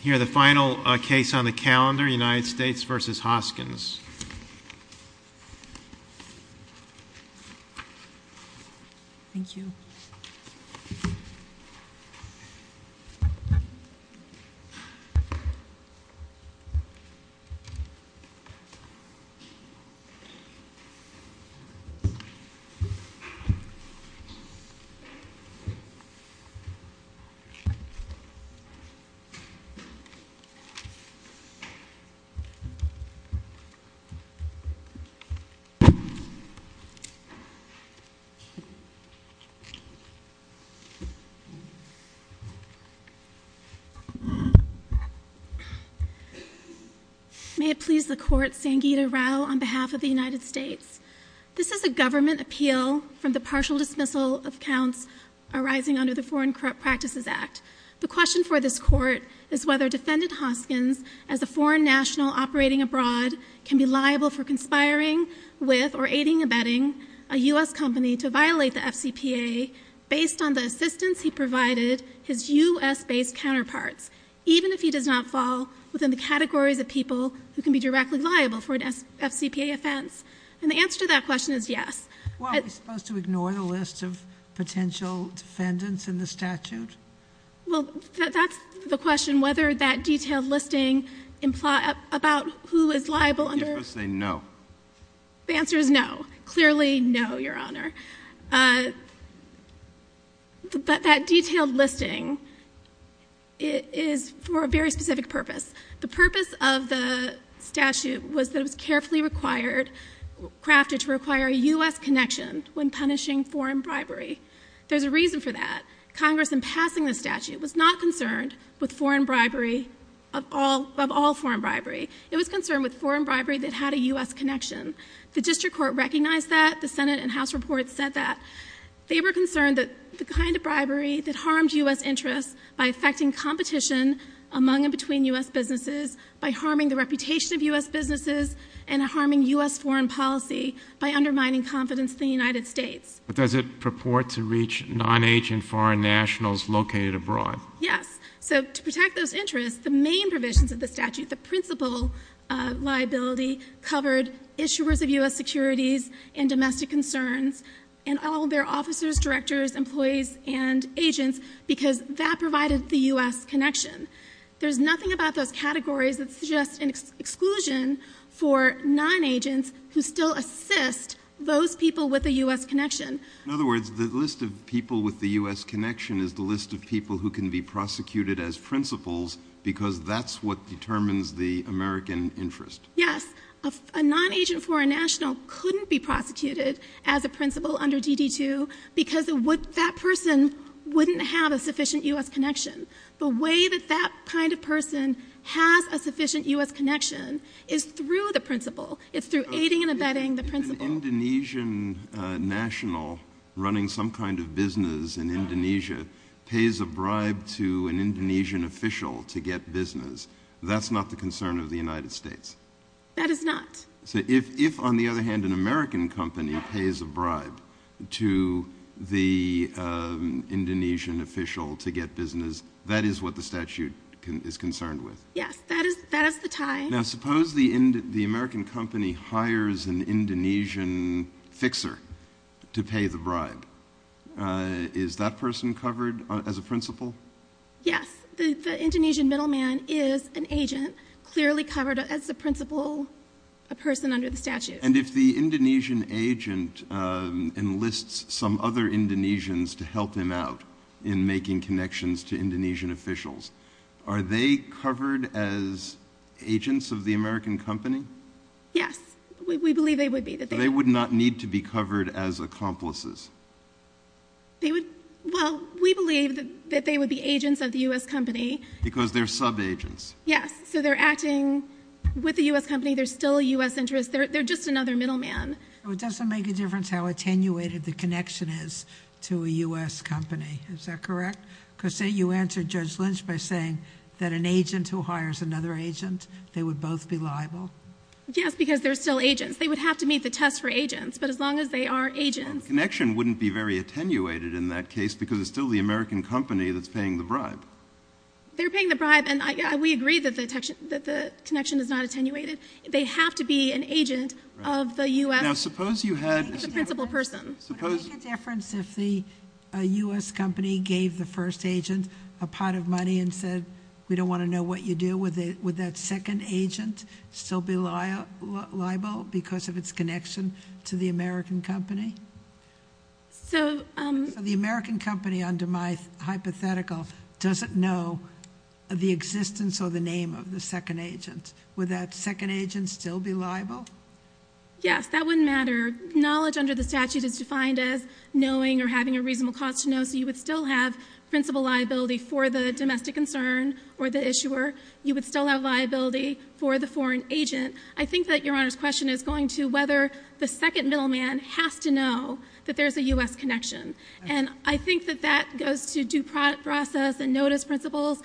Here the final case on the calendar, United States v. Hoskins. May it please the court, Sangeeta Rao on behalf of the United States. This is a government appeal from the partial dismissal of counts arising under the Foreign Corrupt Practices Act. The question for this court is whether Defendant Hoskins as a foreign national operating abroad can be liable for conspiring with or aiding or abetting a U.S. company to violate the FCPA based on the assistance he provided his U.S.-based counterparts, even if he does not fall within the categories of people who can be directly liable for an FCPA offense. And the answer to that question is yes. Well, are we supposed to ignore the list of potential defendants in the statute? Well, that's the question, whether that detailed listing about who is liable under You're supposed to say no. The answer is no. Clearly, no, Your Honor. That detailed listing is for a very specific purpose. The purpose of the statute was that it was carefully crafted to require a U.S. connection when punishing foreign bribery. There's a reason for that. Congress in passing the statute was not concerned with foreign bribery, of all foreign bribery. It was concerned with foreign bribery that had a U.S. connection. The district court recognized that. The Senate and House reports said that. They were concerned that the kind of bribery that harmed U.S. interests by affecting competition among and between U.S. businesses, by harming the reputation of U.S. businesses, and harming U.S. foreign policy by undermining confidence in the United States. But does it purport to reach non-agent foreign nationals located abroad? Yes. So to protect those interests, the main provisions of the statute, the principal liability, covered issuers of U.S. securities and domestic concerns and all of their officers, directors, employees, and agents, because that provided the U.S. connection. There's nothing about those categories that suggests an exclusion for non-agents who still assist those people with a U.S. connection. In other words, the list of people with the U.S. connection is the list of people who can be prosecuted as principals because that's what determines the American interest. Yes. A non-agent foreign national couldn't be prosecuted as a principal under DD2 because what that person wouldn't have a sufficient U.S. connection. The way that that kind of person has a sufficient U.S. connection is through the principal. It's through aiding and abetting the principal. Okay. If an Indonesian national running some kind of business in Indonesia pays a bribe to an Indonesian official to get business, that's not the concern of the United States? That is not. So if, on the other hand, an American company pays a bribe to the Indonesian official to get business, that is what the statute is concerned with? Yes. That is the tie. Now, suppose the American company hires an Indonesian fixer to pay the bribe. Is that person covered as a principal? Yes. The Indonesian middleman is an agent, clearly covered as a principal, a person under the statute. And if the Indonesian agent enlists some other Indonesians to help him out in making connections to Indonesian officials, are they covered as agents of the American company? Yes. We believe they would be. They would not need to be covered as accomplices? They would, well, we believe that they would be agents of the U.S. company. Because they're sub-agents? Yes. So they're acting with the U.S. company. They're still a U.S. interest. They're just another middleman. So it doesn't make a difference how attenuated the connection is to a U.S. company. Is that correct? Because say you answer Judge Lynch by saying that an agent who hires another agent, they would both be liable? Yes, because they're still agents. They would have to meet the test for agents. But as long as they are agents. Well, the connection wouldn't be very attenuated in that case because it's still the American company that's paying the bribe. They're paying the bribe, and we agree that the connection is not attenuated. They have to be an agent of the U.S. Now suppose you had... The principal person. Would it make a difference if the U.S. company gave the first agent a pot of money and said, we don't want to know what you do with it, would that second agent still be liable because of its connection to the American company? The American company, under my hypothetical, doesn't know the existence or the name of the second agent. Would that second agent still be liable? Yes, that wouldn't matter. Knowledge under the statute is defined as knowing or having a reasonable cause to know. So you would still have principal liability for the domestic concern or the issuer. You would still have liability for the foreign agent. I think that Your Honor's question is going to whether the second middleman has to know that there's a U.S. connection. And I think that that goes to due process and notice principles,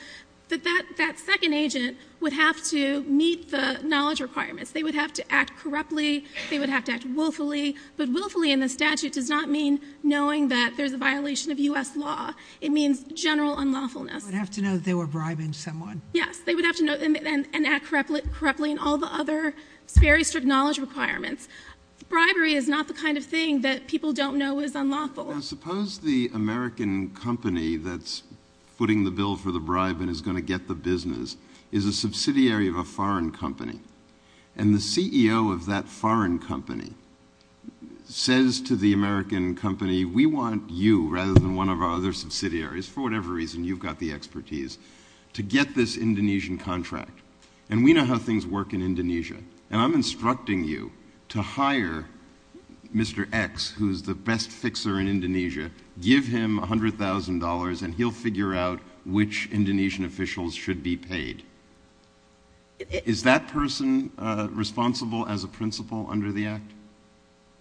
that that second agent would have to meet the knowledge requirements. They would have to act corruptly, they would have to act willfully, but willfully in the statute does not mean knowing that there's a violation of U.S. law. It means general unlawfulness. They would have to know that they were bribing someone. Yes, they would have to know and act corruptly and all the other very strict knowledge requirements. Bribery is not the kind of thing that people don't know is unlawful. Now suppose the American company that's footing the bill for the bribe and is going to get the business is a subsidiary of a foreign company and the CEO of that foreign company says to the American company, we want you rather than one of our other subsidiaries, for whatever reason you've got the expertise, to get this Indonesian contract. And we know how things work in Indonesia. And I'm instructing you to hire Mr. X, who's the best fixer in Indonesia, give him $100,000 and he'll figure out which Indonesian officials should be paid. Is that person responsible as a principal under the act?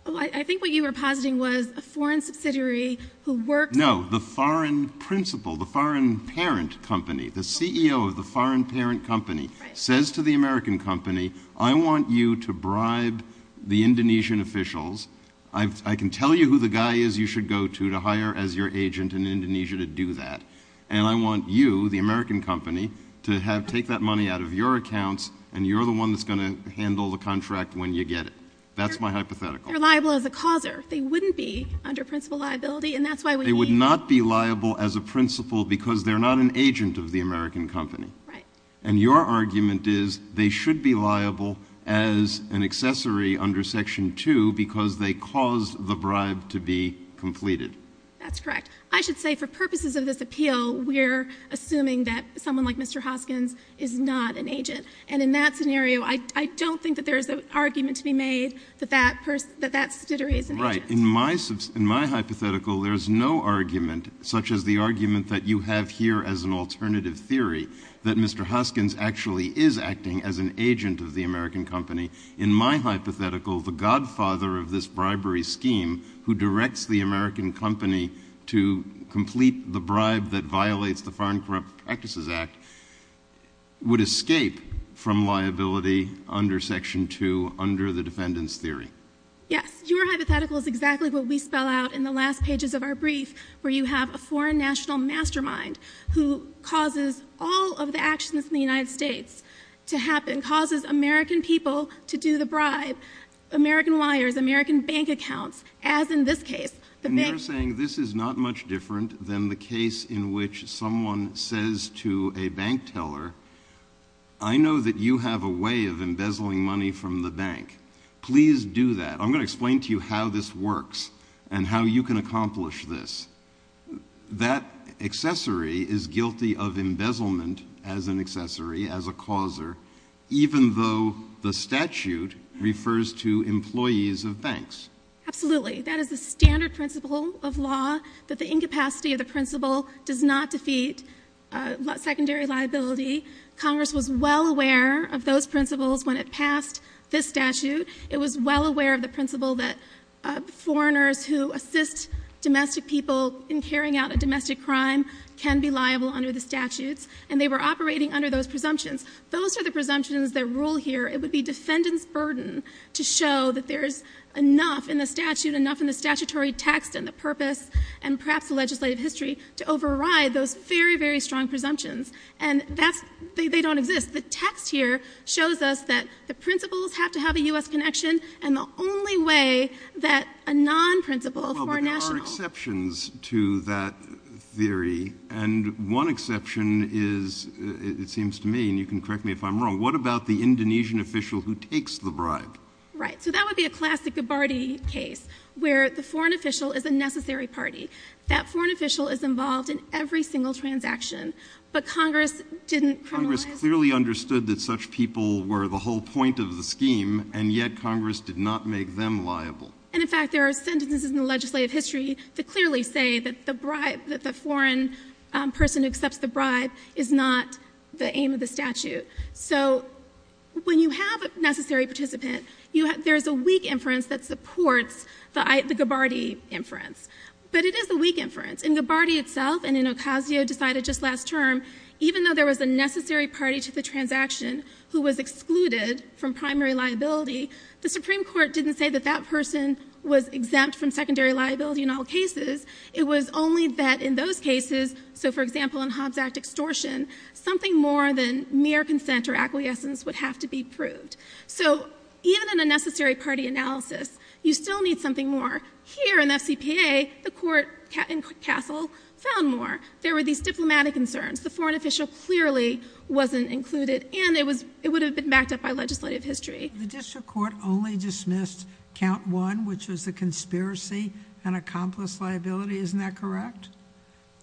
I think what you were positing was a foreign subsidiary who works— No, the foreign principal, the foreign parent company, the CEO of the foreign parent company says to the American company, I want you to bribe the Indonesian officials. I can tell you who the guy is you should go to, to hire as your agent in Indonesia to do that. And I want you, the American company, to take that money out of your accounts and you're the one that's going to handle the contract when you get it. That's my hypothetical. They're liable as a causer. They wouldn't be under principal liability. And that's why we— They would not be liable as a principal because they're not an agent of the American company. And your argument is they should be liable as an accessory under Section 2 because they caused the bribe to be completed. That's correct. I should say for purposes of this appeal, we're assuming that someone like Mr. Hoskins is not an agent. And in that scenario, I don't think that there is an argument to be made that that subsidiary is an agent. Right. In my hypothetical, there's no argument such as the argument that you have here as an alternative theory that Mr. Hoskins actually is acting as an agent of the American company. In my hypothetical, the godfather of this bribery scheme who directs the American company to complete the bribe that violates the Foreign Corrupt Practices Act would escape from liability under Section 2 under the defendant's theory. Yes. Your hypothetical is exactly what we spell out in the last pages of our brief where you have a foreign national mastermind who causes all of the actions in the United States to happen, causes American people to do the bribe, American wires, American bank accounts, as in this case. And you're saying this is not much different than the case in which someone says to a bank teller, I know that you have a way of embezzling money from the bank. Please do that. I'm going to explain to you how this works and how you can accomplish this. That accessory is guilty of embezzlement as an accessory, as a causer, even though the statute refers to employees of banks. Absolutely. That is the standard principle of law, that the incapacity of the principle does not defeat secondary liability. Congress was well aware of those principles when it passed this statute. It was well aware of the principle that foreigners who assist domestic people in carrying out a domestic crime can be liable under the statutes, and they were operating under those presumptions. Those are the presumptions that rule here. It would be defendant's burden to show that there is enough in the statute, enough in the statutory text and the purpose and perhaps the legislative history to override those very, very strong presumptions. And that's, they don't exist. Because the text here shows us that the principles have to have a U.S. connection, and the only way that a non-principle of foreign national... Well, but there are exceptions to that theory, and one exception is, it seems to me, and you can correct me if I'm wrong, what about the Indonesian official who takes the bribe? Right. So that would be a classic Gabbardi case, where the foreign official is a necessary party. That foreign official is involved in every single transaction. But Congress didn't criminalize... Congress clearly understood that such people were the whole point of the scheme, and yet Congress did not make them liable. And in fact, there are sentences in the legislative history that clearly say that the bribe, that the foreign person who accepts the bribe is not the aim of the statute. So when you have a necessary participant, there's a weak inference that supports the Gabbardi inference. But it is a weak inference. In Gabbardi itself, and in Ocasio-Decado just last term, even though there was a necessary party to the transaction who was excluded from primary liability, the Supreme Court didn't say that that person was exempt from secondary liability in all cases. It was only that in those cases, so for example, in Hobbs Act extortion, something more than mere consent or acquiescence would have to be proved. So even in a necessary party analysis, you still need something more. Here in the FCPA, the court in Castle found more. There were these diplomatic concerns. The foreign official clearly wasn't included, and it would have been backed up by legislative history. The district court only dismissed count one, which was the conspiracy and accomplice liability. Isn't that correct?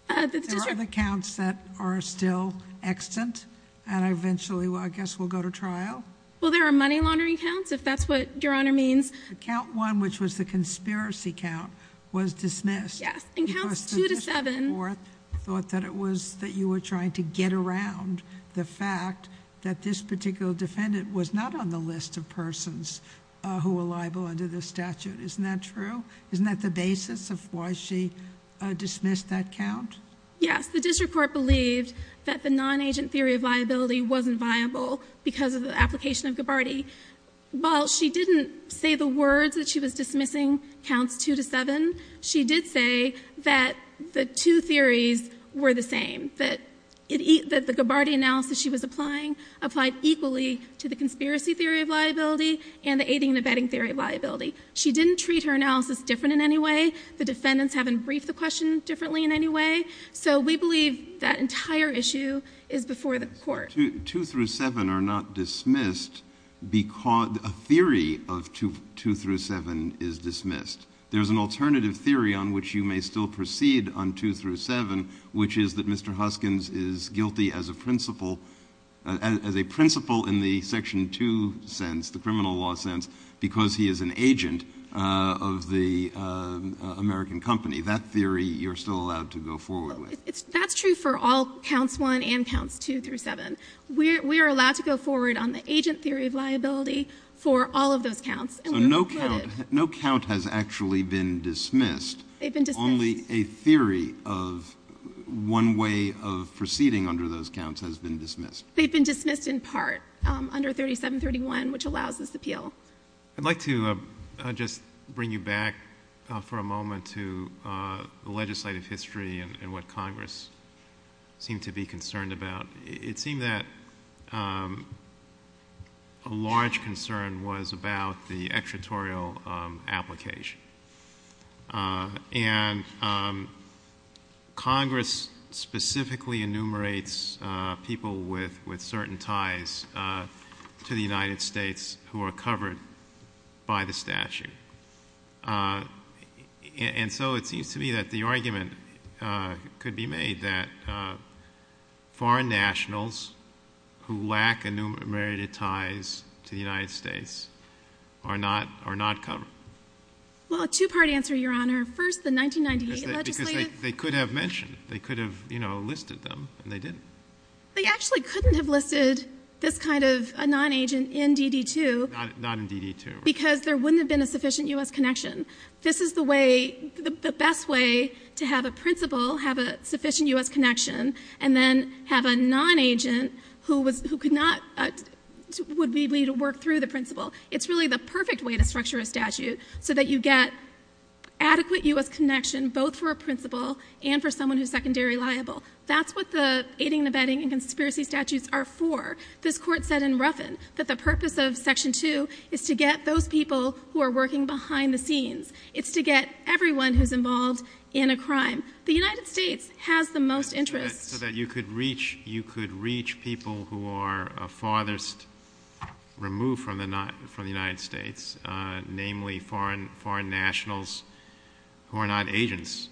The district... There are other counts that are still extant, and eventually, I guess, will go to trial? Well, there are money laundering counts, if that's what Your Honor means. Count one, which was the conspiracy count, was dismissed. Yes. In counts two to seven... Because the district court thought that it was that you were trying to get around the fact that this particular defendant was not on the list of persons who were liable under this statute. Isn't that true? Isn't that the basis of why she dismissed that count? Yes. The district court believed that the non-agent theory of liability wasn't viable because of the application of Gabbardi. While she didn't say the words that she was dismissing counts two to seven, she did say that the two theories were the same, that the Gabbardi analysis she was applying applied equally to the conspiracy theory of liability and the aiding and abetting theory of liability. She didn't treat her analysis different in any way. The defendants haven't briefed the question differently in any way. So we believe that entire issue is before the court. Two through seven are not dismissed because... a theory of two through seven is dismissed. There's an alternative theory on which you may still proceed on two through seven, which is that Mr. Huskins is guilty as a principal, as a principal in the section two sense, the criminal law sense, because he is an agent of the American company. That theory you're still allowed to go forward with. That's true for all counts one and counts two through seven. We are allowed to go forward on the agent theory of liability for all of those counts. So no count has actually been dismissed. They've been dismissed. Only a theory of one way of proceeding under those counts has been dismissed. They've been dismissed in part under 3731, which allows this appeal. I'd like to just bring you back for a moment to the legislative history and what Congress seemed to be concerned about. It seemed that a large concern was about the extraterritorial application. And Congress specifically enumerates people with certain ties to the United States who are covered by the statute. And so it seems to me that the argument could be made that foreign nationals who lack enumerated ties to the United States are not, are not covered. Well, a two part answer, Your Honor. First the 1998 legislative. They could have mentioned, they could have, you know, listed them and they didn't. They actually couldn't have listed this kind of a non-agent in DD2. Not in DD2. Because there wouldn't have been a sufficient U.S. connection. This is the way, the best way to have a principal have a sufficient U.S. connection and then have a non-agent who was, who could not, would be able to work through the principal. It's really the perfect way to structure a statute so that you get adequate U.S. connection both for a principal and for someone who's secondary liable. That's what the aiding and abetting and conspiracy statutes are for. This court said in Ruffin that the purpose of Section 2 is to get those people who are working behind the scenes. It's to get everyone who's involved in a crime. The United States has the most interest. So that you could reach, you could reach people who are farthest removed from the, from the United States, namely foreign, foreign nationals who are not agents.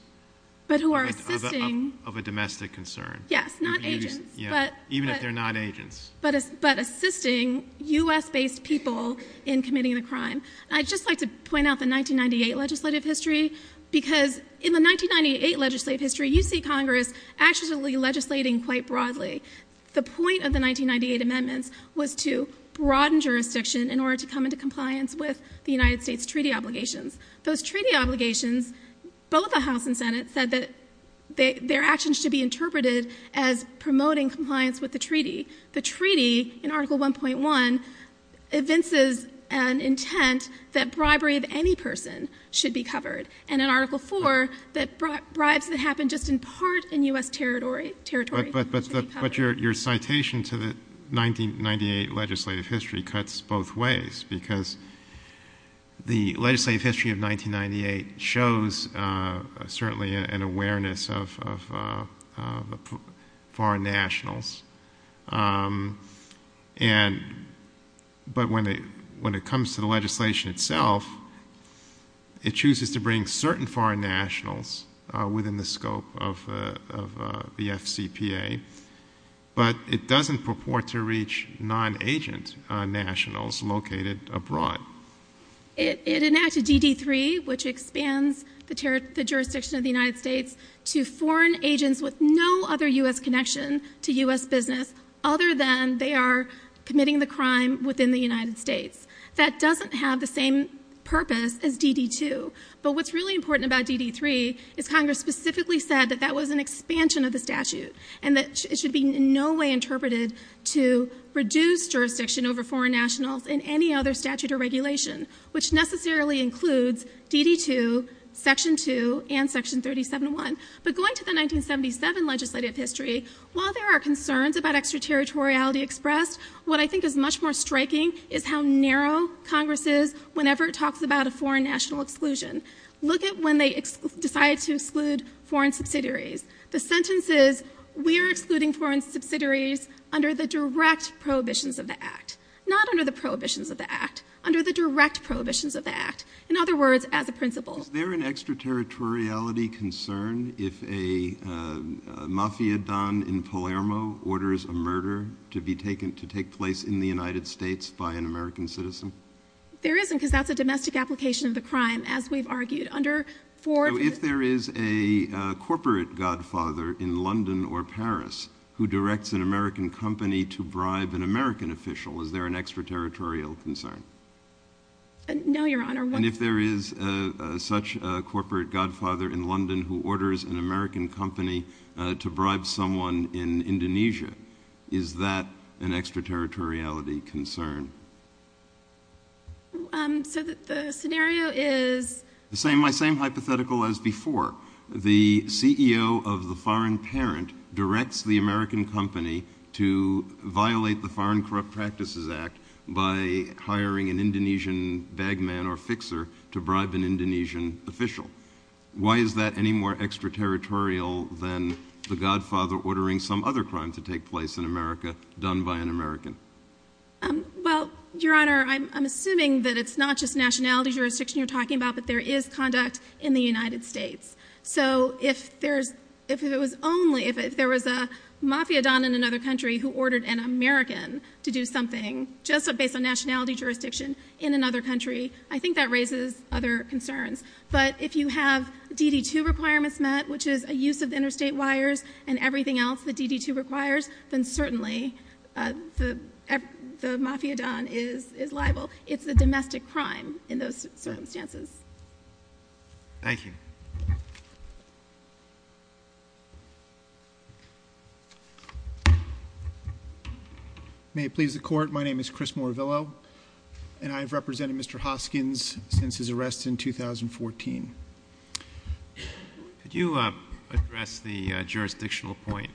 But who are assisting. Of a domestic concern. Yes, not agents. But. Even if they're not agents. But assisting U.S. based people in committing the crime. I'd just like to point out the 1998 legislative history because in the 1998 legislative history you see Congress actually legislating quite broadly. The point of the 1998 amendments was to broaden jurisdiction in order to come into compliance with the United States treaty obligations. Those treaty obligations, both the House and Senate said that their actions should be interpreted as promoting compliance with the treaty. The treaty in Article 1.1 evinces an intent that bribery of any person should be covered. And in Article 4 that bribes that happen just in part in U.S. territory should be covered. But your citation to the 1998 legislative history cuts both ways because the legislative history of 1998 shows certainly an awareness of foreign nationals. And but when they, when it comes to the legislation itself, it chooses to bring certain foreign nationals within the scope of the FCPA. But it doesn't purport to reach non-agent nationals located abroad. It enacted DD3 which expands the jurisdiction of the United States to foreign agents with no other U.S. connection to U.S. business other than they are committing the crime within the United States. That doesn't have the same purpose as DD2. But what's really important about DD3 is Congress specifically said that that was an expansion of the statute and that it should be in no way interpreted to reduce jurisdiction over foreign nationals in any other statute or regulation, which necessarily includes DD2, Section 2, and Section 37.1. But going to the 1977 legislative history, while there are concerns about extraterritoriality expressed, what I think is much more striking is how narrow Congress is whenever it talks about a foreign national exclusion. Look at when they decide to exclude foreign subsidiaries. The sentence is, we are excluding foreign subsidiaries under the direct prohibitions of the Act, not under the prohibitions of the Act, under the direct prohibitions of the Act. In other words, as a principle. Is there an extraterritoriality concern if a mafia don in Palermo orders a murder to be taken to take place in the United States by an American citizen? There isn't because that's a domestic application of the crime as we've argued. So if there is a corporate godfather in London or Paris who directs an American company to bribe an American official, is there an extraterritorial concern? No, Your Honor. And if there is such a corporate godfather in London who orders an American company to bribe someone in Indonesia, is that an extraterritoriality concern? So the scenario is... My same hypothetical as before. The CEO of the foreign parent directs the American company to violate the Foreign Corrupt Practices Act by hiring an Indonesian bagman or fixer to bribe an Indonesian official. Why is that any more extraterritorial than the godfather ordering some other crime to take place in America done by an American? Well, Your Honor, I'm assuming that it's not just nationality jurisdiction you're talking about. It's misconduct in the United States. So if there was a mafiadon in another country who ordered an American to do something just based on nationality jurisdiction in another country, I think that raises other concerns. But if you have DD2 requirements met, which is a use of interstate wires and everything else that DD2 requires, then certainly the mafiadon is liable. It's a domestic crime in those circumstances. Thank you. May it please the Court. My name is Chris Moravillo, and I've represented Mr. Hoskins since his arrest in 2014. Could you address the jurisdictional point?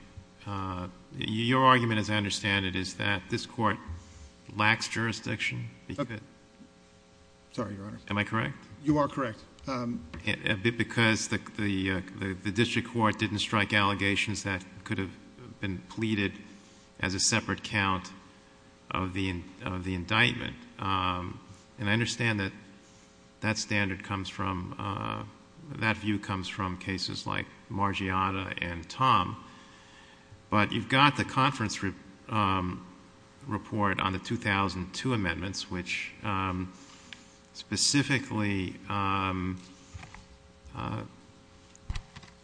Your argument, as I understand it, is that this Court lacks jurisdiction? Sorry, Your Honor. Am I correct? You are correct. Because the district court didn't strike allegations that could have been pleaded as a separate count of the indictment. And I understand that that view comes from cases like Margiotta and Tom, but you've got the conference report on the 2002 amendments, which specifically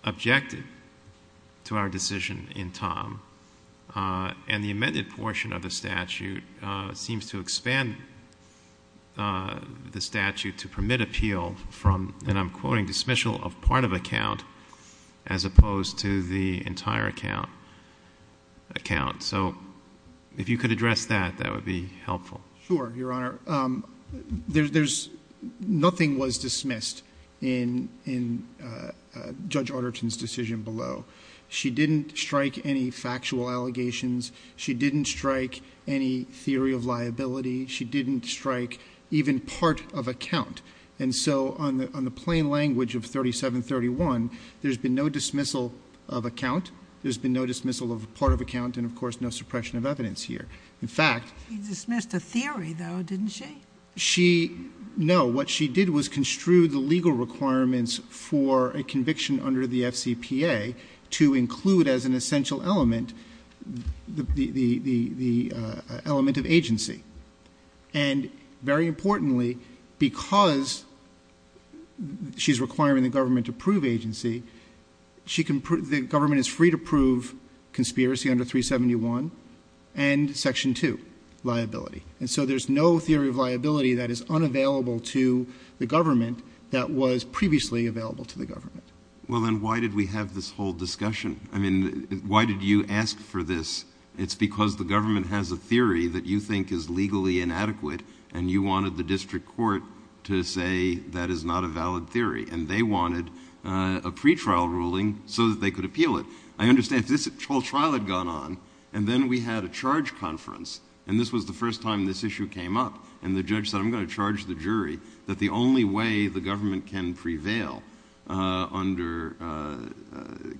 objected to our decision in Tom, and the amended portion of the statute seems to expand the statute to permit appeal from, and I'm quoting, dismissal of part of a count as opposed to the entire count. So if you could address that, that would be helpful. Sure, Your Honor. Nothing was dismissed in Judge Arterton's decision below. She didn't strike any factual allegations. She didn't strike any theory of liability. She didn't strike even part of a count. And so on the plain language of 3731, there's been no dismissal of a count, there's been no dismissal of a part of a count, and of course no suppression of evidence here. In fact— She dismissed a theory, though, didn't she? No, what she did was construe the legal requirements for a conviction under the FCPA to include as an essential element the element of agency. And very importantly, because she's requiring the government to prove agency, the government is free to prove conspiracy under 371 and Section 2, liability. And so there's no theory of liability that is unavailable to the government that was previously available to the government. Well, then why did we have this whole discussion? I mean, why did you ask for this? It's because the government has a theory that you think is legally inadequate, and you wanted the district court to say that is not a valid theory, and they wanted a pretrial ruling so that they could appeal it. I understand. This whole trial had gone on, and then we had a charge conference, and this was the first time this issue came up, and the judge said, I'm going to charge the jury that the only way the government can prevail under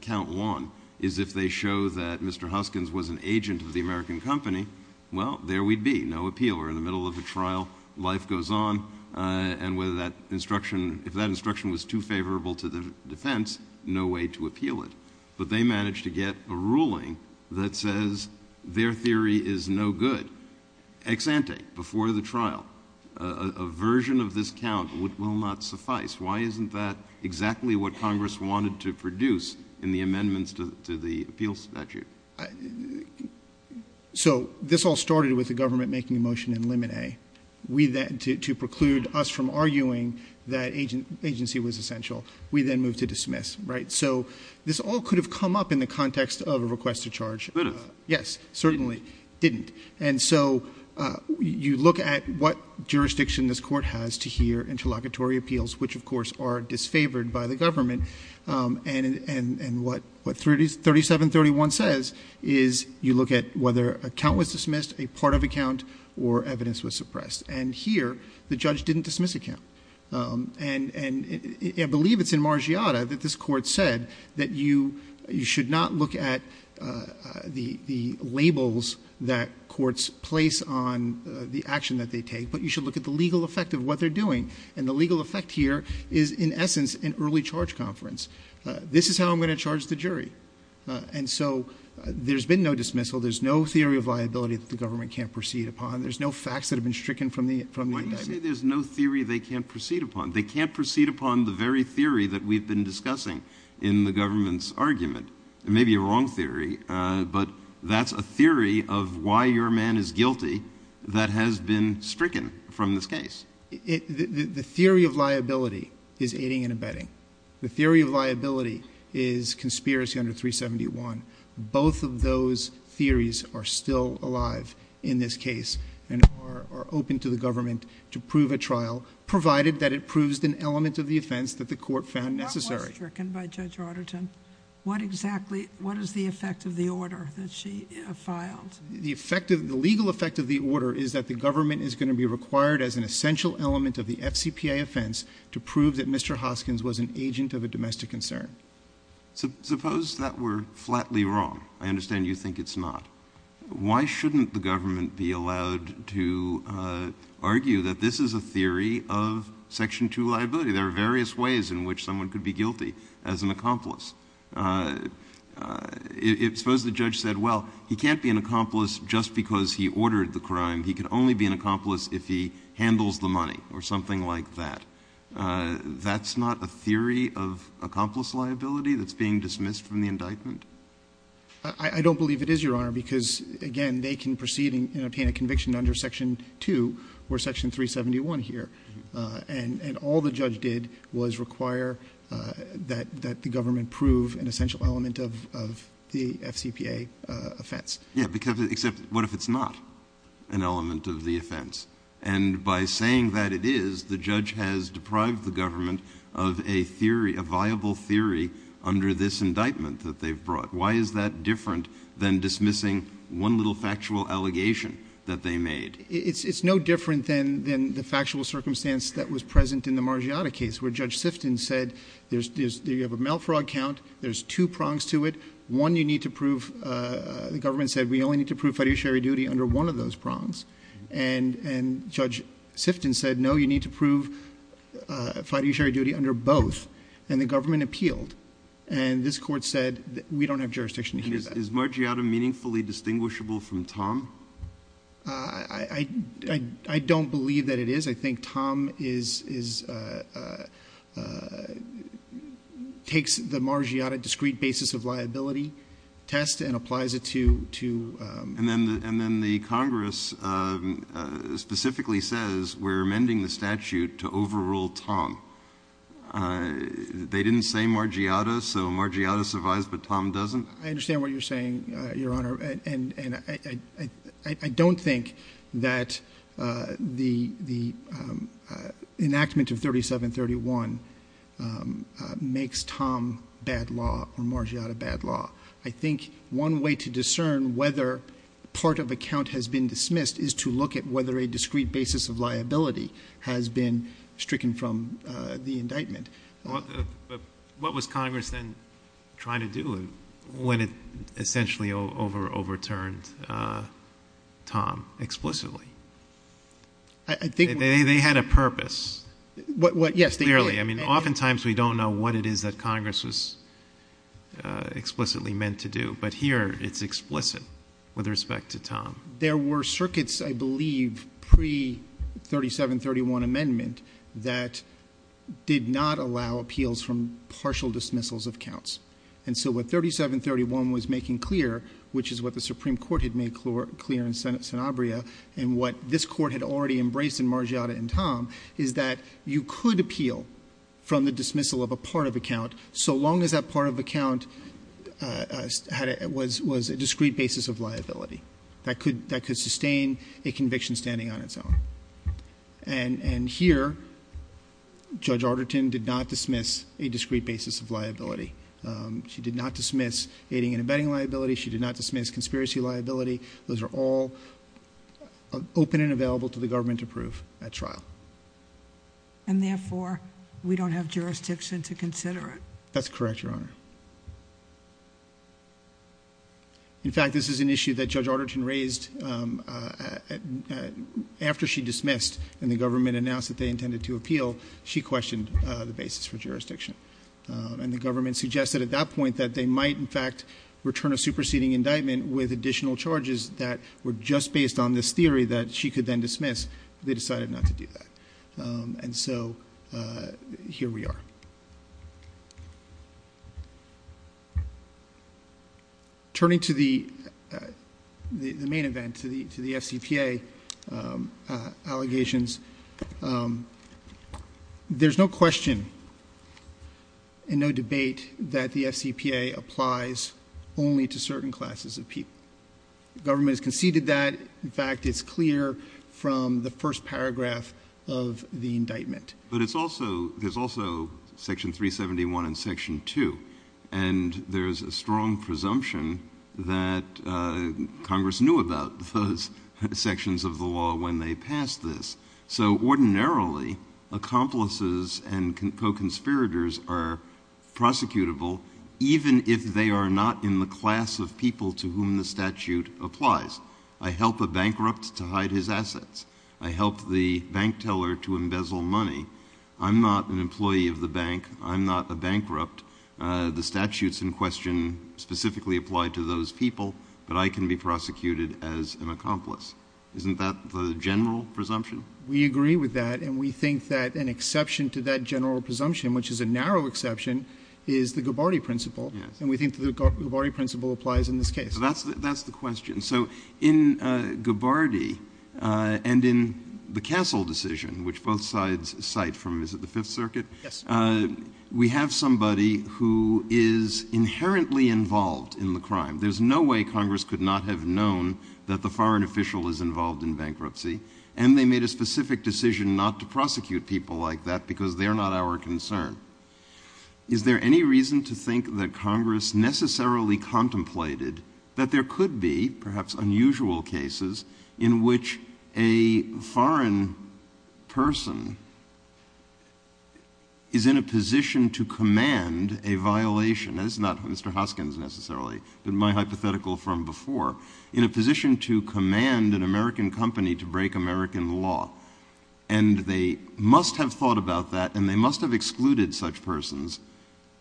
Count Juan is if they show that Mr. Huskins was an agent of the American company, well, there we'd be, no appeal. We're in the middle of a trial, life goes on, and whether that instruction—if that instruction was too favorable to the defense, no way to appeal it. But they managed to get a ruling that says their theory is no good. Ex ante, before the trial, a version of this count will not suffice. Why isn't that exactly what Congress wanted to produce in the amendments to the appeal statute? So this all started with the government making a motion in Limine to preclude us from arguing that agency was essential. We then moved to dismiss, right? So this all could have come up in the context of a request to charge— But it didn't. Yes, certainly. It didn't. And so you look at what jurisdiction this Court has to hear interlocutory appeals, which of course are disfavored by the government, and what 3731 says is you look at whether a count was dismissed, a part of a count, or evidence was suppressed. And here, the judge didn't dismiss a count. And I believe it's in Margiata that this Court said that you should not look at the labels that courts place on the action that they take, but you should look at the legal effect of what they're doing. And the legal effect here is, in essence, an early charge conference. This is how I'm going to charge the jury. And so there's been no dismissal, there's no theory of liability that the government can't proceed upon, there's no facts that have been stricken from the indictment. I'm not saying there's no theory they can't proceed upon. They can't proceed upon the very theory that we've been discussing in the government's argument. It may be a wrong theory, but that's a theory of why your man is guilty that has been stricken from this case. The theory of liability is aiding and abetting. The theory of liability is conspiracy under 371. Both of those theories are still alive in this case and are open to the government to prove a trial, provided that it proves an element of the offense that the court found necessary. What was stricken by Judge Auderton? What exactly, what is the effect of the order that she filed? The effect of, the legal effect of the order is that the government is going to be required as an essential element of the FCPA offense to prove that Mr. Hoskins was an agent of a domestic concern. Suppose that we're flatly wrong. I understand you think it's not. Why shouldn't the government be allowed to argue that this is a theory of Section 2 liability? There are various ways in which someone could be guilty as an accomplice. Suppose the judge said, well, he can't be an accomplice just because he ordered the crime. He can only be an accomplice if he handles the money or something like that. That's not a theory of accomplice liability that's being dismissed from the indictment? I don't believe it is, Your Honor, because, again, they can proceed and obtain a conviction under Section 2 or Section 371 here. And all the judge did was require that the government prove an essential element of the FCPA offense. Yeah, because, except, what if it's not an element of the offense? And by saying that it is, the judge has deprived the government of a theory, a viable theory under this indictment that they've brought. Why is that different than dismissing one little factual allegation that they made? It's no different than the factual circumstance that was present in the Margiotta case where Judge Sifton said, you have a mail fraud count, there's two prongs to it. One you need to prove, the government said, we only need to prove fiduciary duty under one of those prongs. And Judge Sifton said, no, you need to prove fiduciary duty under both. And the government appealed. And this Court said, we don't have jurisdiction to do that. Is Margiotta meaningfully distinguishable from Tom? I don't believe that it is. I think Tom is, takes the Margiotta discrete basis of liability test and applies it to And then the Congress specifically says, we're amending the statute to overrule Tom. They didn't say Margiotta, so Margiotta survives, but Tom doesn't? I understand what you're saying, Your Honor. And I don't think that the enactment of 3731 makes Tom bad law or Margiotta bad law. I think one way to discern whether part of a count has been dismissed is to look at whether a discrete basis of liability has been stricken from the indictment. What was Congress then trying to do when it essentially overturned Tom explicitly? They had a purpose. Yes, they did. I mean, oftentimes we don't know what it is that Congress was explicitly meant to do. But here it's explicit with respect to Tom. There were circuits, I believe, pre-3731 amendment that did not allow appeals from partial dismissals of counts. And so what 3731 was making clear, which is what the Supreme Court had made clear in Senate Abria and what this Court had already embraced in Margiotta and Tom, is that you could appeal from the dismissal of a part of a count so long as that part of a count was a discrete basis of liability that could sustain a conviction standing on its own. And here, Judge Arterton did not dismiss a discrete basis of liability. She did not dismiss aiding and abetting liability. She did not dismiss conspiracy liability. Those are all open and available to the government to prove at trial. And therefore, we don't have jurisdiction to consider it. That's correct, Your Honor. In fact, this is an issue that Judge Arterton raised after she dismissed and the government announced that they intended to appeal. She questioned the basis for jurisdiction. And the government suggested at that point that they might, in fact, return a superseding indictment with additional charges that were just based on this theory that she could then dismiss. They decided not to do that. And so here we are. Turning to the main event, to the FCPA allegations, there's no question and no debate that the The government has conceded that. In fact, it's clear from the first paragraph of the indictment. But there's also Section 371 and Section 2. And there's a strong presumption that Congress knew about those sections of the law when they passed this. So ordinarily, accomplices and co-conspirators are prosecutable even if they are not in the class of people to whom the statute applies. I help a bankrupt to hide his assets. I help the bank teller to embezzle money. I'm not an employee of the bank. I'm not a bankrupt. The statute's in question specifically applied to those people, but I can be prosecuted as an accomplice. Isn't that the general presumption? We agree with that. And we think that an exception to that general presumption, which is a narrow exception, is the Gabbardi principle. And we think the Gabbardi principle applies in this case. That's the question. So in Gabbardi and in the Castle decision, which both sides cite from, is it the Fifth Circuit? Yes. We have somebody who is inherently involved in the crime. There's no way Congress could not have known that the foreign official is involved in bankruptcy. And they made a specific decision not to prosecute people like that because they're not our concern. Is there any reason to think that Congress necessarily contemplated that there could be perhaps unusual cases in which a foreign person is in a position to command a violation — that's not Mr. Hoskins necessarily, but my hypothetical from before — in a position to command an American company to break American law? And they must have thought about that, and they must have excluded such persons,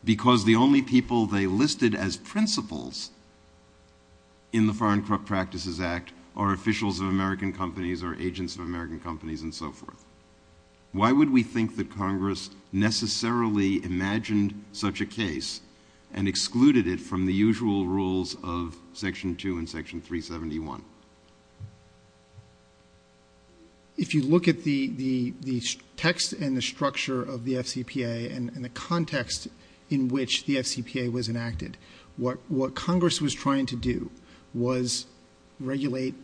because the only people they listed as principles in the Foreign Practices Act are officials of American companies or agents of American companies and so forth. Why would we think that Congress necessarily imagined such a case and excluded it from the usual rules of Section 2 and Section 371? Well, if you look at the text and the structure of the FCPA and the context in which the FCPA was enacted, what Congress was trying to do was regulate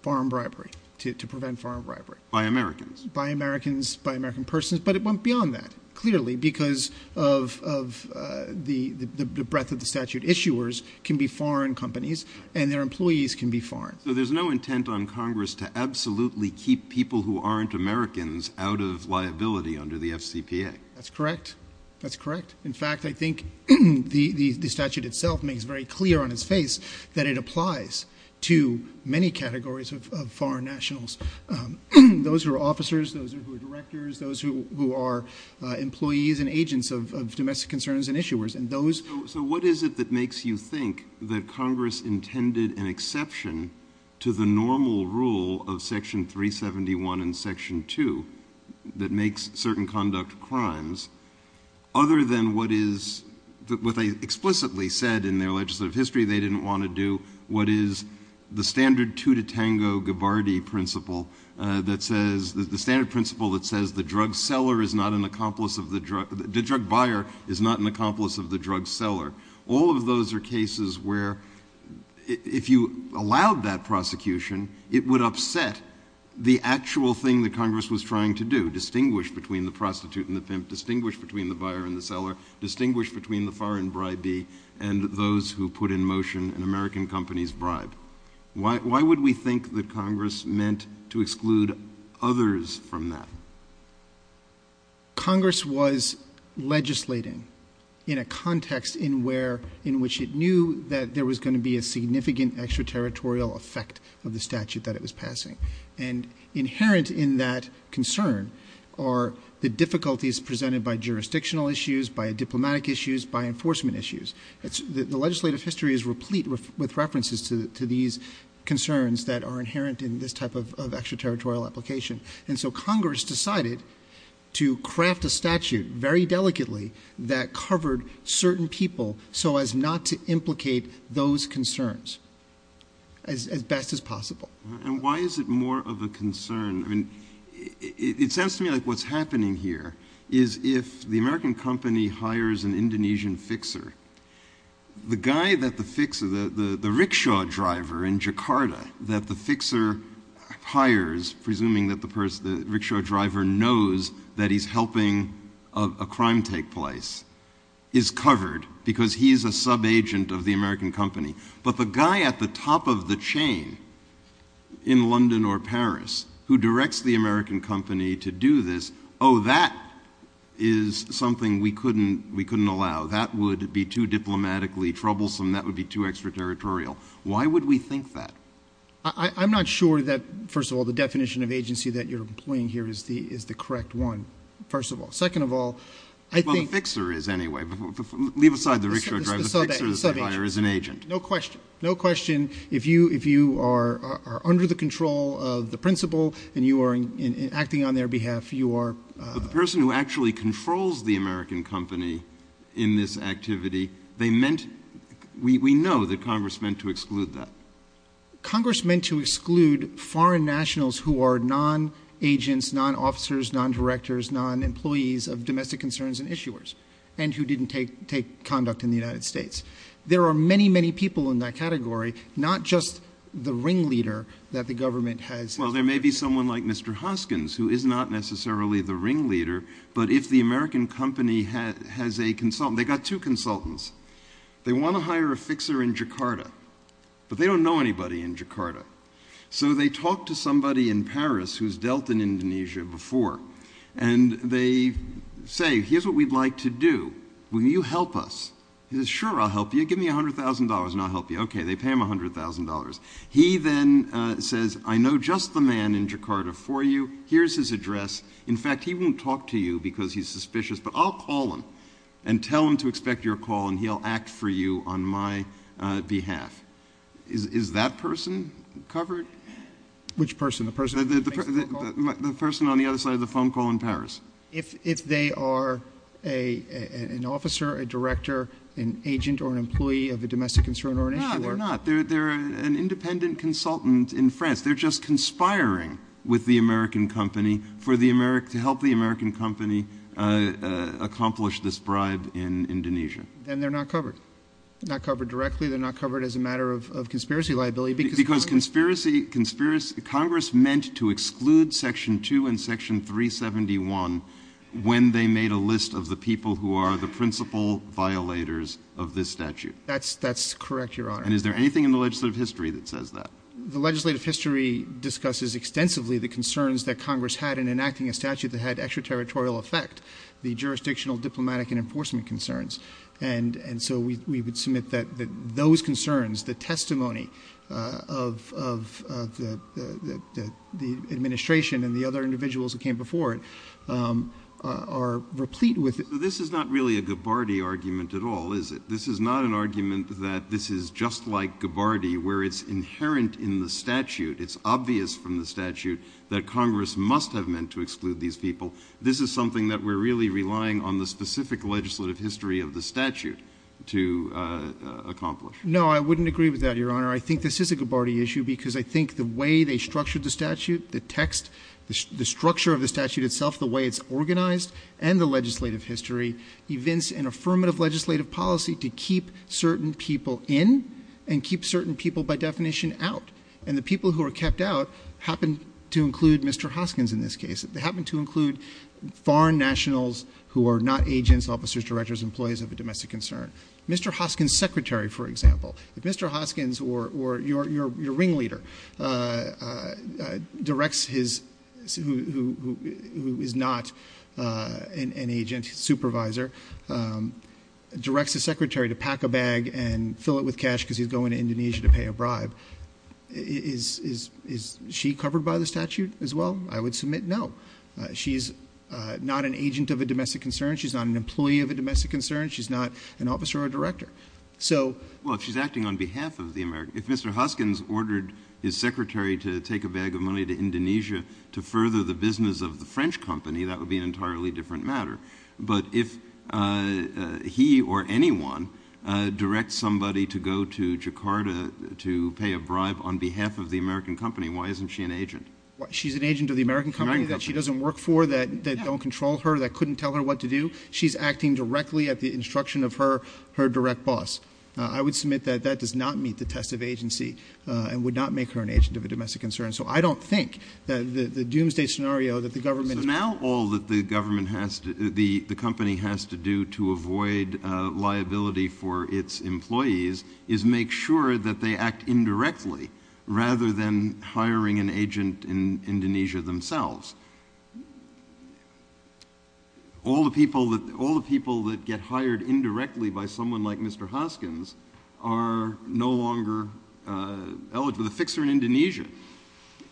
foreign bribery, to prevent foreign bribery. By Americans? By Americans, by American persons. But it went beyond that, clearly, because of the breadth of the statute. So there's no intent on Congress to absolutely keep people who aren't Americans out of liability under the FCPA? That's correct. That's correct. In fact, I think the statute itself makes very clear on its face that it applies to many categories of foreign nationals. Those who are officers, those who are directors, those who are employees and agents of domestic concerns and issuers. So what is it that makes you think that Congress intended an exception to the normal rule of Section 371 and Section 2 that makes certain conduct crimes, other than what they explicitly said in their legislative history they didn't want to do? What is the standard Tutatango-Ghibardi principle that says the drug buyer is not an accomplice of the drug seller? All of those are cases where if you allowed that prosecution, it would upset the actual thing that Congress was trying to do, distinguish between the prostitute and the pimp, distinguish between the buyer and the seller, distinguish between the foreign bribee and those who put in motion an American company's bribe. Why would we think that Congress meant to exclude others from that? Congress was legislating in a context in which it knew that there was going to be a significant extraterritorial effect of the statute that it was passing. And inherent in that concern are the difficulties presented by jurisdictional issues, by diplomatic issues, by enforcement issues. The legislative history is replete with references to these concerns that are inherent in this type of extraterritorial application. And so Congress decided to craft a statute very delicately that covered certain people so as not to implicate those concerns as best as possible. And why is it more of a concern? It sounds to me like what's happening here is if the American company hires an Indonesian fixer, the guy that the fixer, the rickshaw driver in Jakarta that the fixer hires, presuming that the rickshaw driver knows that he's helping a crime take place, is covered because he is a sub-agent of the American company. But the guy at the top of the chain in London or Paris who directs the American company to do this, oh, that is something we couldn't allow. That would be too diplomatically troublesome. That would be too extraterritorial. Why would we think that? I'm not sure that, first of all, the definition of agency that you're employing here is the correct one, first of all. Second of all, I think— Well, the fixer is anyway. Leave aside the rickshaw driver. The fixer is an agent. The sub-agent. No question. No question. If you are under the control of the principal and you are acting on their behalf, you are— But the person who actually controls the American company in this activity, they meant—we know that Congress meant to exclude that. Congress meant to exclude foreign nationals who are non-agents, non-officers, non-directors, non-employees of domestic concerns and issuers, and who didn't take conduct in the United States. There are many, many people in that category, not just the ringleader that the government has— Well, there may be someone like Mr. Hoskins, who is not necessarily the ringleader. But if the American company has a consultant—they've got two consultants. They want to hire a fixer in Jakarta, but they don't know anybody in Jakarta. So they talk to somebody in Paris who has dealt in Indonesia before. And they say, here's what we'd like to do. Will you help us? He says, sure, I'll help you. Give me $100,000 and I'll help you. Okay. They pay him $100,000. He then says, I know just the man in Jakarta for you. Here's his address. In fact, he won't talk to you because he's suspicious, but I'll call him and tell him to expect your call and he'll act for you on my behalf. Is that person covered? Which person? The person on the other side of the phone call in Paris? If they are an officer, a director, an agent, or an employee of a domestic concern or an issuer— No, they're not. They're an independent consultant in France. They're just conspiring with the American company to help the American company accomplish this bribe in Indonesia. Then they're not covered. They're not covered directly. They're not covered as a matter of conspiracy liability because— Because conspiracy—Congress meant to exclude Section 2 and Section 371 when they made a list of the people who are the principal violators of this statute. That's correct, Your Honor. And is there anything in the legislative history that says that? The legislative history discusses extensively the concerns that Congress had in enacting a statute that had extraterritorial effect, the jurisdictional, diplomatic, and enforcement concerns. And so we would submit that those concerns, the testimony of the administration and the other individuals that came before it are replete with— This is not really a Gabbardi argument at all, is it? This is not an argument that this is just like Gabbardi where it's inherent in the statute, it's obvious from the statute that Congress must have meant to exclude these people. This is something that we're really relying on the specific legislative history of the statute to accomplish. No, I wouldn't agree with that, Your Honor. I think this is a Gabbardi issue because I think the way they structured the statute, the text, the structure of the statute itself, the way it's organized, and the legislative history evince an affirmative legislative policy to keep certain people in and keep certain people, by definition, out. And the people who are kept out happen to include Mr. Hoskins in this case. They happen to include foreign nationals who are not agents, officers, directors, employees of a domestic concern. Mr. Hoskins' secretary, for example, if Mr. Hoskins or your ringleader directs his—who is not an agent, supervisor—directs his secretary to pack a bag and fill it with cash because he's going to Indonesia to pay a bribe, is she covered by the statute as well? I would submit no. She's not an agent of a domestic concern. She's not an employee of a domestic concern. She's not an officer or a director. So— Well, if she's acting on behalf of the American—if Mr. Hoskins ordered his secretary to take a bag of money to Indonesia to further the business of the French company, that would be an entirely different matter. But if he or anyone directs somebody to go to Jakarta to pay a bribe on behalf of the American company, why isn't she an agent? She's an agent of the American company that she doesn't work for, that don't control her, that couldn't tell her what to do. She's acting directly at the instruction of her direct boss. I would submit that that does not meet the test of agency and would not make her an agent of a domestic concern. So I don't think that the doomsday scenario that the government— the company has to do to avoid liability for its employees is make sure that they act indirectly rather than hiring an agent in Indonesia themselves. All the people that—all the people that get hired indirectly by someone like Mr. Hoskins are no longer eligible—the fixer in Indonesia.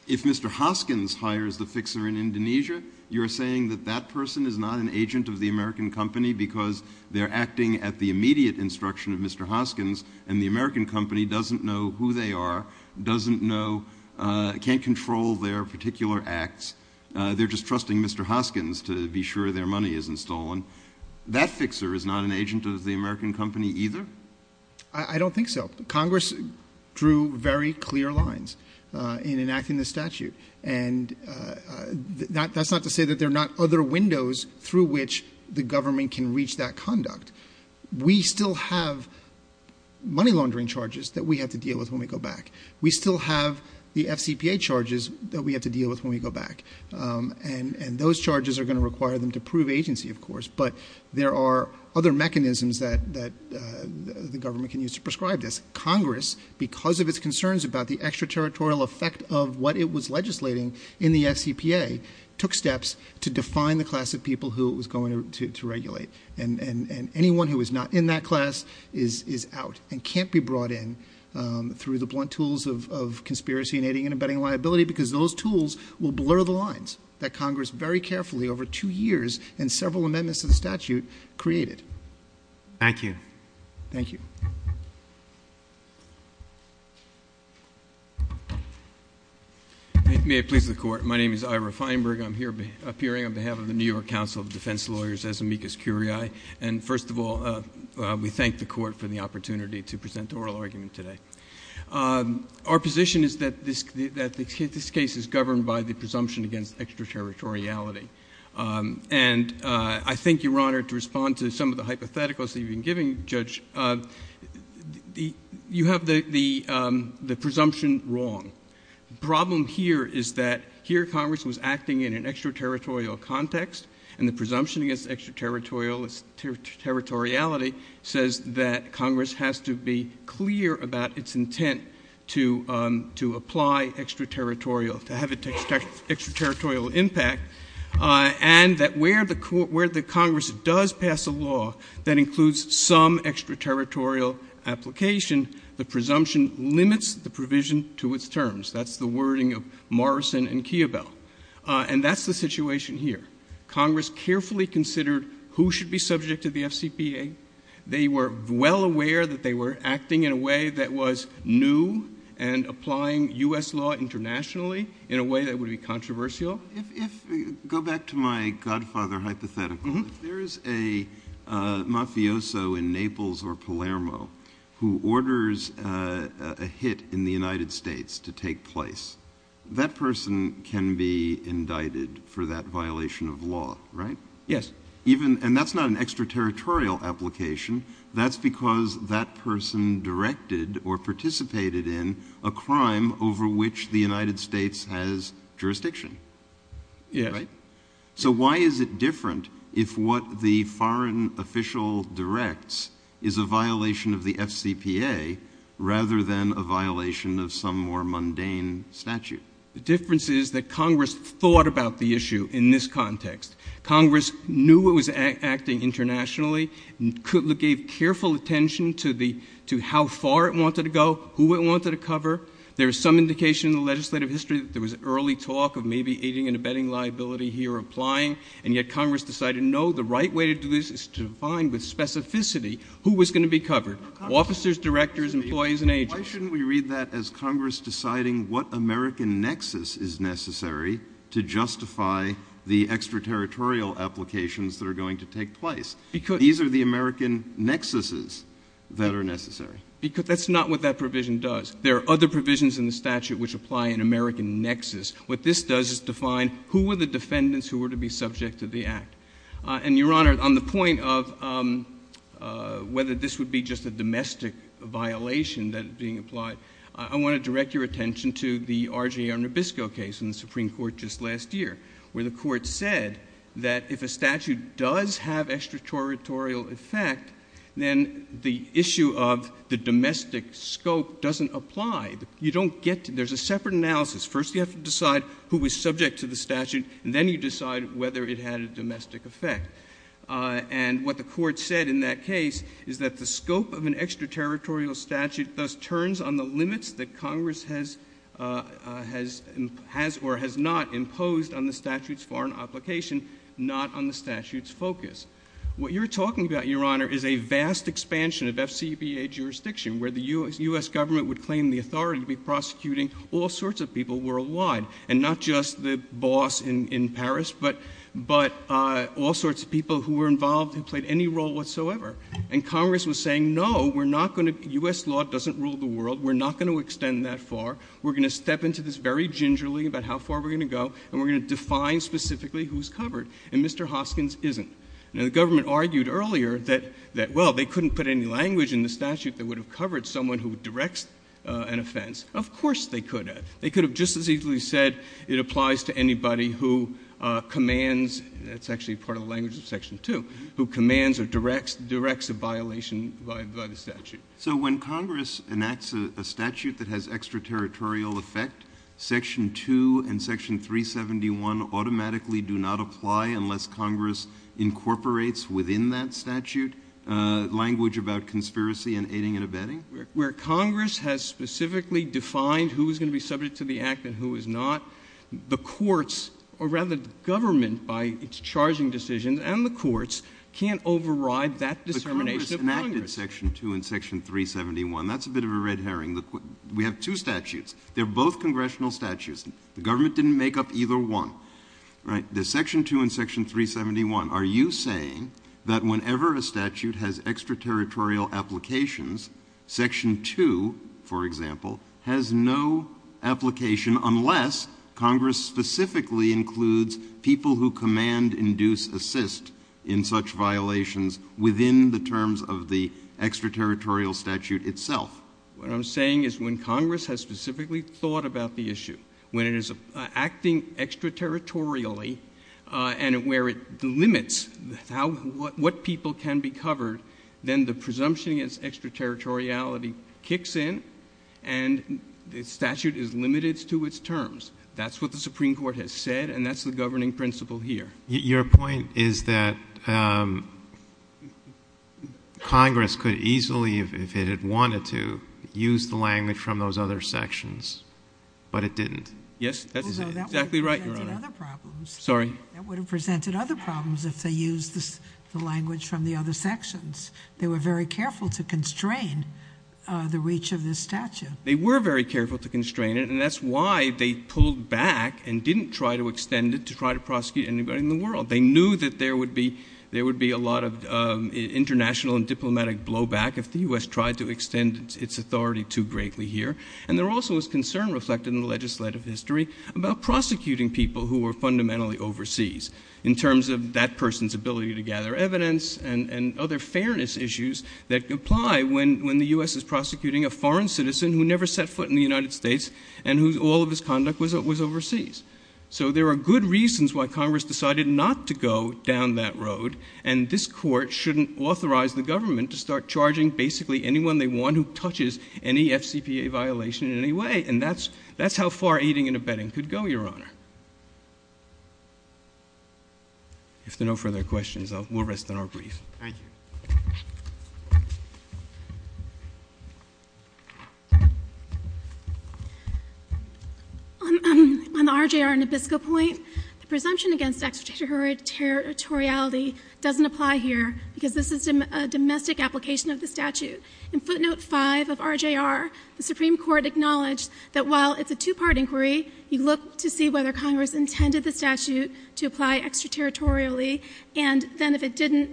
If Mr. Hoskins hires the fixer in Indonesia, you're saying that that person is not an agent of the American company because they're acting at the immediate instruction of Mr. Hoskins and the American company doesn't know who they are, doesn't know—can't control their particular acts. They're just trusting Mr. Hoskins to be sure their money isn't stolen. That fixer is not an agent of the American company either? I don't think so. Congress drew very clear lines in enacting the statute. And that's not to say that there are not other windows through which the government can reach that conduct. We still have money laundering charges that we have to deal with when we go back. We still have the FCPA charges that we have to deal with when we go back. And those charges are going to require them to prove agency, of course, but there are other mechanisms that the government can use to prescribe this. Congress, because of its concerns about the extraterritorial effect of what it was legislating in the FCPA, took steps to define the class of people who it was going to regulate. And anyone who is not in that class is out and can't be brought in through the blunt tools of conspiracy, aiding and abetting liability, because those tools will blur the lines that are created. Thank you. Thank you. May I please the Court? My name is Ira Feinberg. I'm here appearing on behalf of the New York Council of Defense Lawyers as amicus curiae. And first of all, we thank the Court for the opportunity to present oral argument today. Our position is that this case is governed by the presumption against extraterritoriality. And I think you're honored to respond to some of the hypotheticals that you've been giving, Judge. You have the presumption wrong. Problem here is that here Congress was acting in an extraterritorial context, and the presumption against extraterritoriality says that Congress has to be clear about its intent to apply extraterritorial, to have an extraterritorial impact, and that where the Congress does pass a law that includes some extraterritorial application, the presumption limits the provision to its terms. That's the wording of Morrison and Keebel. And that's the situation here. Congress carefully considered who should be subject to the FCPA. They were well aware that they were acting in a way that was new and applying U.S. law internationally in a way that would be controversial. Go back to my godfather hypothetical. If there is a mafioso in Naples or Palermo who orders a hit in the United States to take place, that person can be indicted for that violation of law, right? Yes. And that's not an extraterritorial application. That's because that person directed or participated in a crime over which the United States has jurisdiction. Yes. Right? So why is it different if what the foreign official directs is a violation of the FCPA rather than a violation of some more mundane statute? The difference is that Congress thought about the issue in this context. Congress knew it was acting internationally and gave careful attention to how far it wanted to go, who it wanted to cover. There was some indication in the legislative history that there was early talk of maybe aiding and abetting liability here or applying, and yet Congress decided, no, the right way to do this is to find with specificity who was going to be covered—officers, directors, employees, and agents. Why shouldn't we read that as Congress deciding what American nexus is necessary to justify the extraterritorial applications that are going to take place? Because— These are the American nexuses that are necessary. Because that's not what that provision does. There are other provisions in the statute which apply an American nexus. What this does is define who were the defendants who were to be subject to the act. And Your Honor, on the point of whether this would be just a domestic violation that is being applied, I want to direct your attention to the RGR Nabisco case in the Supreme Court just last year, where the Court said that if a statute does have extraterritorial effect, then the issue of the domestic scope doesn't apply. You don't get to—there's a separate analysis. First you have to decide who was subject to the statute, and then you decide whether it had a domestic effect. And what the Court said in that case is that the scope of an extraterritorial statute thus imposed on the statute's foreign application, not on the statute's focus. What you're talking about, Your Honor, is a vast expansion of FCBA jurisdiction, where the U.S. government would claim the authority to be prosecuting all sorts of people worldwide, and not just the boss in Paris, but all sorts of people who were involved and played any role whatsoever. And Congress was saying, no, we're not going to—U.S. law doesn't rule the world. We're not going to extend that far. We're going to step into this very gingerly about how far we're going to go, and we're going to define specifically who's covered. And Mr. Hoskins isn't. Now, the government argued earlier that, well, they couldn't put any language in the statute that would have covered someone who directs an offense. Of course they could have. They could have just as easily said it applies to anybody who commands—that's actually part of the language of Section 2—who commands or directs a violation by the statute. So when Congress enacts a statute that has extraterritorial effect, Section 2 and Section 371 automatically do not apply unless Congress incorporates within that statute language about conspiracy and aiding and abetting? Where Congress has specifically defined who is going to be subject to the act and who is not, the courts—or rather, the government, by its charging decisions, and the courts can't override that dissemination of Congress. But if you look at Section 2 and Section 371, that's a bit of a red herring. We have two statutes. They're both congressional statutes. The government didn't make up either one. Right? The Section 2 and Section 371, are you saying that whenever a statute has extraterritorial applications, Section 2, for example, has no application unless Congress specifically includes people who command, induce, assist in such violations within the terms of the extraterritorial statute itself? What I'm saying is when Congress has specifically thought about the issue, when it is acting extraterritorially and where it limits what people can be covered, then the presumption against extraterritoriality kicks in and the statute is limited to its terms. That's what the Supreme Court has said, and that's the governing principle here. Your point is that Congress could easily, if it had wanted to, use the language from those other sections, but it didn't. Yes. That's exactly right, Your Honor. Although that would have presented other problems. Sorry. That would have presented other problems if they used the language from the other sections. They were very careful to constrain the reach of this statute. They were very careful to constrain it, and that's why they pulled back and didn't try to extend it to try to prosecute anybody in the world. They knew that there would be a lot of international and diplomatic blowback if the U.S. tried to extend its authority too greatly here. And there also was concern reflected in the legislative history about prosecuting people who were fundamentally overseas in terms of that person's ability to gather evidence and other fairness issues that apply when the U.S. is prosecuting a foreign citizen who never set foot in the United States and whose all of his conduct was overseas. So there are good reasons why Congress decided not to go down that road, and this Court shouldn't authorize the government to start charging basically anyone they want who touches any FCPA violation in any way. And that's how far aiding and abetting could go, Your Honor. If there are no further questions, we'll rest on our brief. Thank you. On the RJR Nabisco point, the presumption against extraterritoriality doesn't apply here because this is a domestic application of the statute. In footnote 5 of RJR, the Supreme Court acknowledged that while it's a two-part inquiry, you look to see whether Congress intended the statute to apply extraterritorially, and then if it didn't,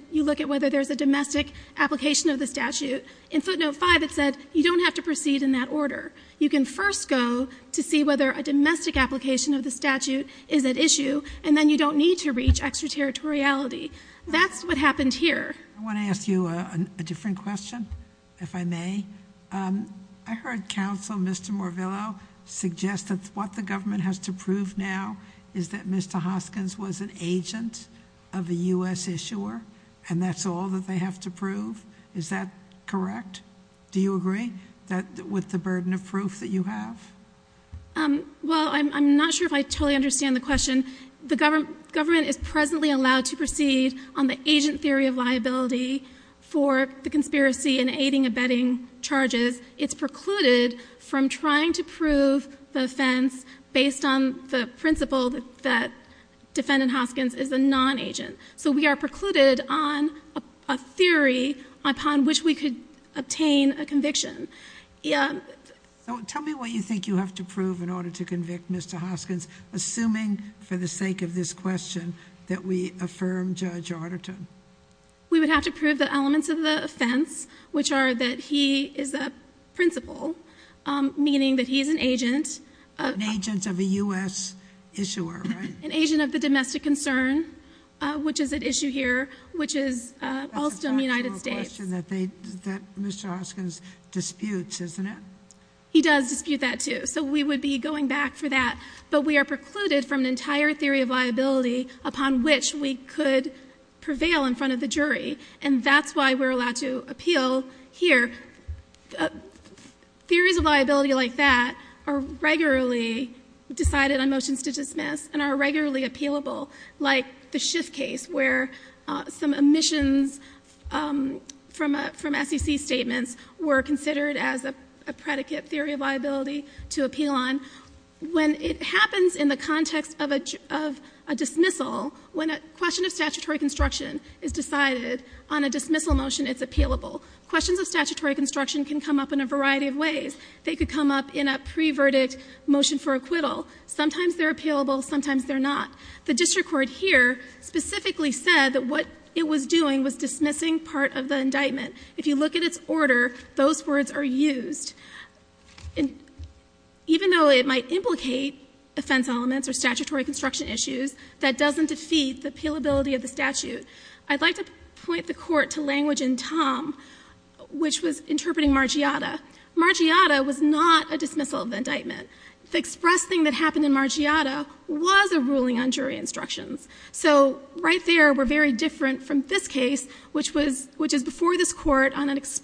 whether there's a domestic application of the statute. In footnote 5, it said you don't have to proceed in that order. You can first go to see whether a domestic application of the statute is at issue, and then you don't need to reach extraterritoriality. That's what happened here. I want to ask you a different question, if I may. I heard Counsel Mr. Morvillo suggest that what the government has to prove now is that Mr. Hoskins was an agent of a U.S. issuer, and that's all that they have to prove. Is that correct? Do you agree with the burden of proof that you have? Well, I'm not sure if I totally understand the question. The government is presently allowed to proceed on the agent theory of liability for the conspiracy in aiding and abetting charges. Because it's precluded from trying to prove the offense based on the principle that Defendant Hoskins is a non-agent. So we are precluded on a theory upon which we could obtain a conviction. Tell me what you think you have to prove in order to convict Mr. Hoskins, assuming, for the sake of this question, that we affirm Judge Arterton. We would have to prove the elements of the offense, which are that he is a principal, meaning that he's an agent of the U.S. issuer, an agent of the domestic concern, which is at issue here, which is also in the United States. That's a factual question that Mr. Hoskins disputes, isn't it? He does dispute that, too. So we would be going back for that, but we are precluded from an entire theory of liability upon which we could prevail in front of the jury. And that's why we're allowed to appeal here. Theories of liability like that are regularly decided on motions to dismiss and are regularly appealable, like the Schiff case, where some omissions from SEC statements were considered as a predicate theory of liability to appeal on. When it happens in the context of a dismissal, when a question of statutory construction is decided on a dismissal motion, it's appealable. Questions of statutory construction can come up in a variety of ways. They could come up in a pre-verdict motion for acquittal. Sometimes they're appealable, sometimes they're not. The district court here specifically said that what it was doing was dismissing part of the indictment. If you look at its order, those words are used. Even though it might implicate offense elements or statutory construction issues, that doesn't defeat the appealability of the statute, I'd like to point the Court to language in Tom, which was interpreting Margiata. Margiata was not a dismissal of indictment. The express thing that happened in Margiata was a ruling on jury instructions. So right there, we're very different from this case, which is before this Court on an But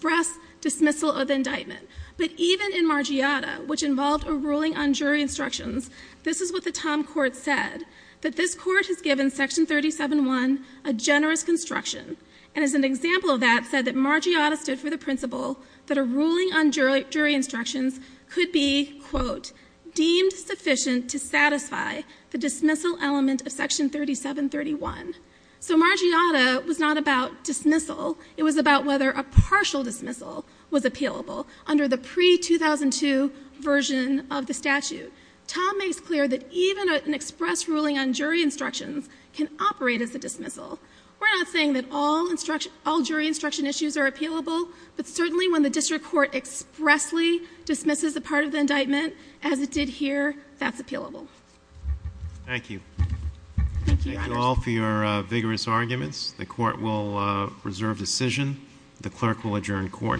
even in Margiata, which involved a ruling on jury instructions, this is what the Tom Court said, that this Court has given Section 37-1 a generous construction. And as an example of that, said that Margiata stood for the principle that a ruling on jury instructions could be, quote, deemed sufficient to satisfy the dismissal element of Section 37-31. So Margiata was not about dismissal. It was about whether a partial dismissal was appealable under the pre-2002 version of the statute. Tom makes clear that even an express ruling on jury instructions can operate as a dismissal. We're not saying that all jury instruction issues are appealable, but certainly when the District Court expressly dismisses a part of the indictment, as it did here, that's appealable. Thank you. Thank you, Robert. Thank you all for your vigorous arguments. The Court will reserve decision. The Clerk will adjourn Court.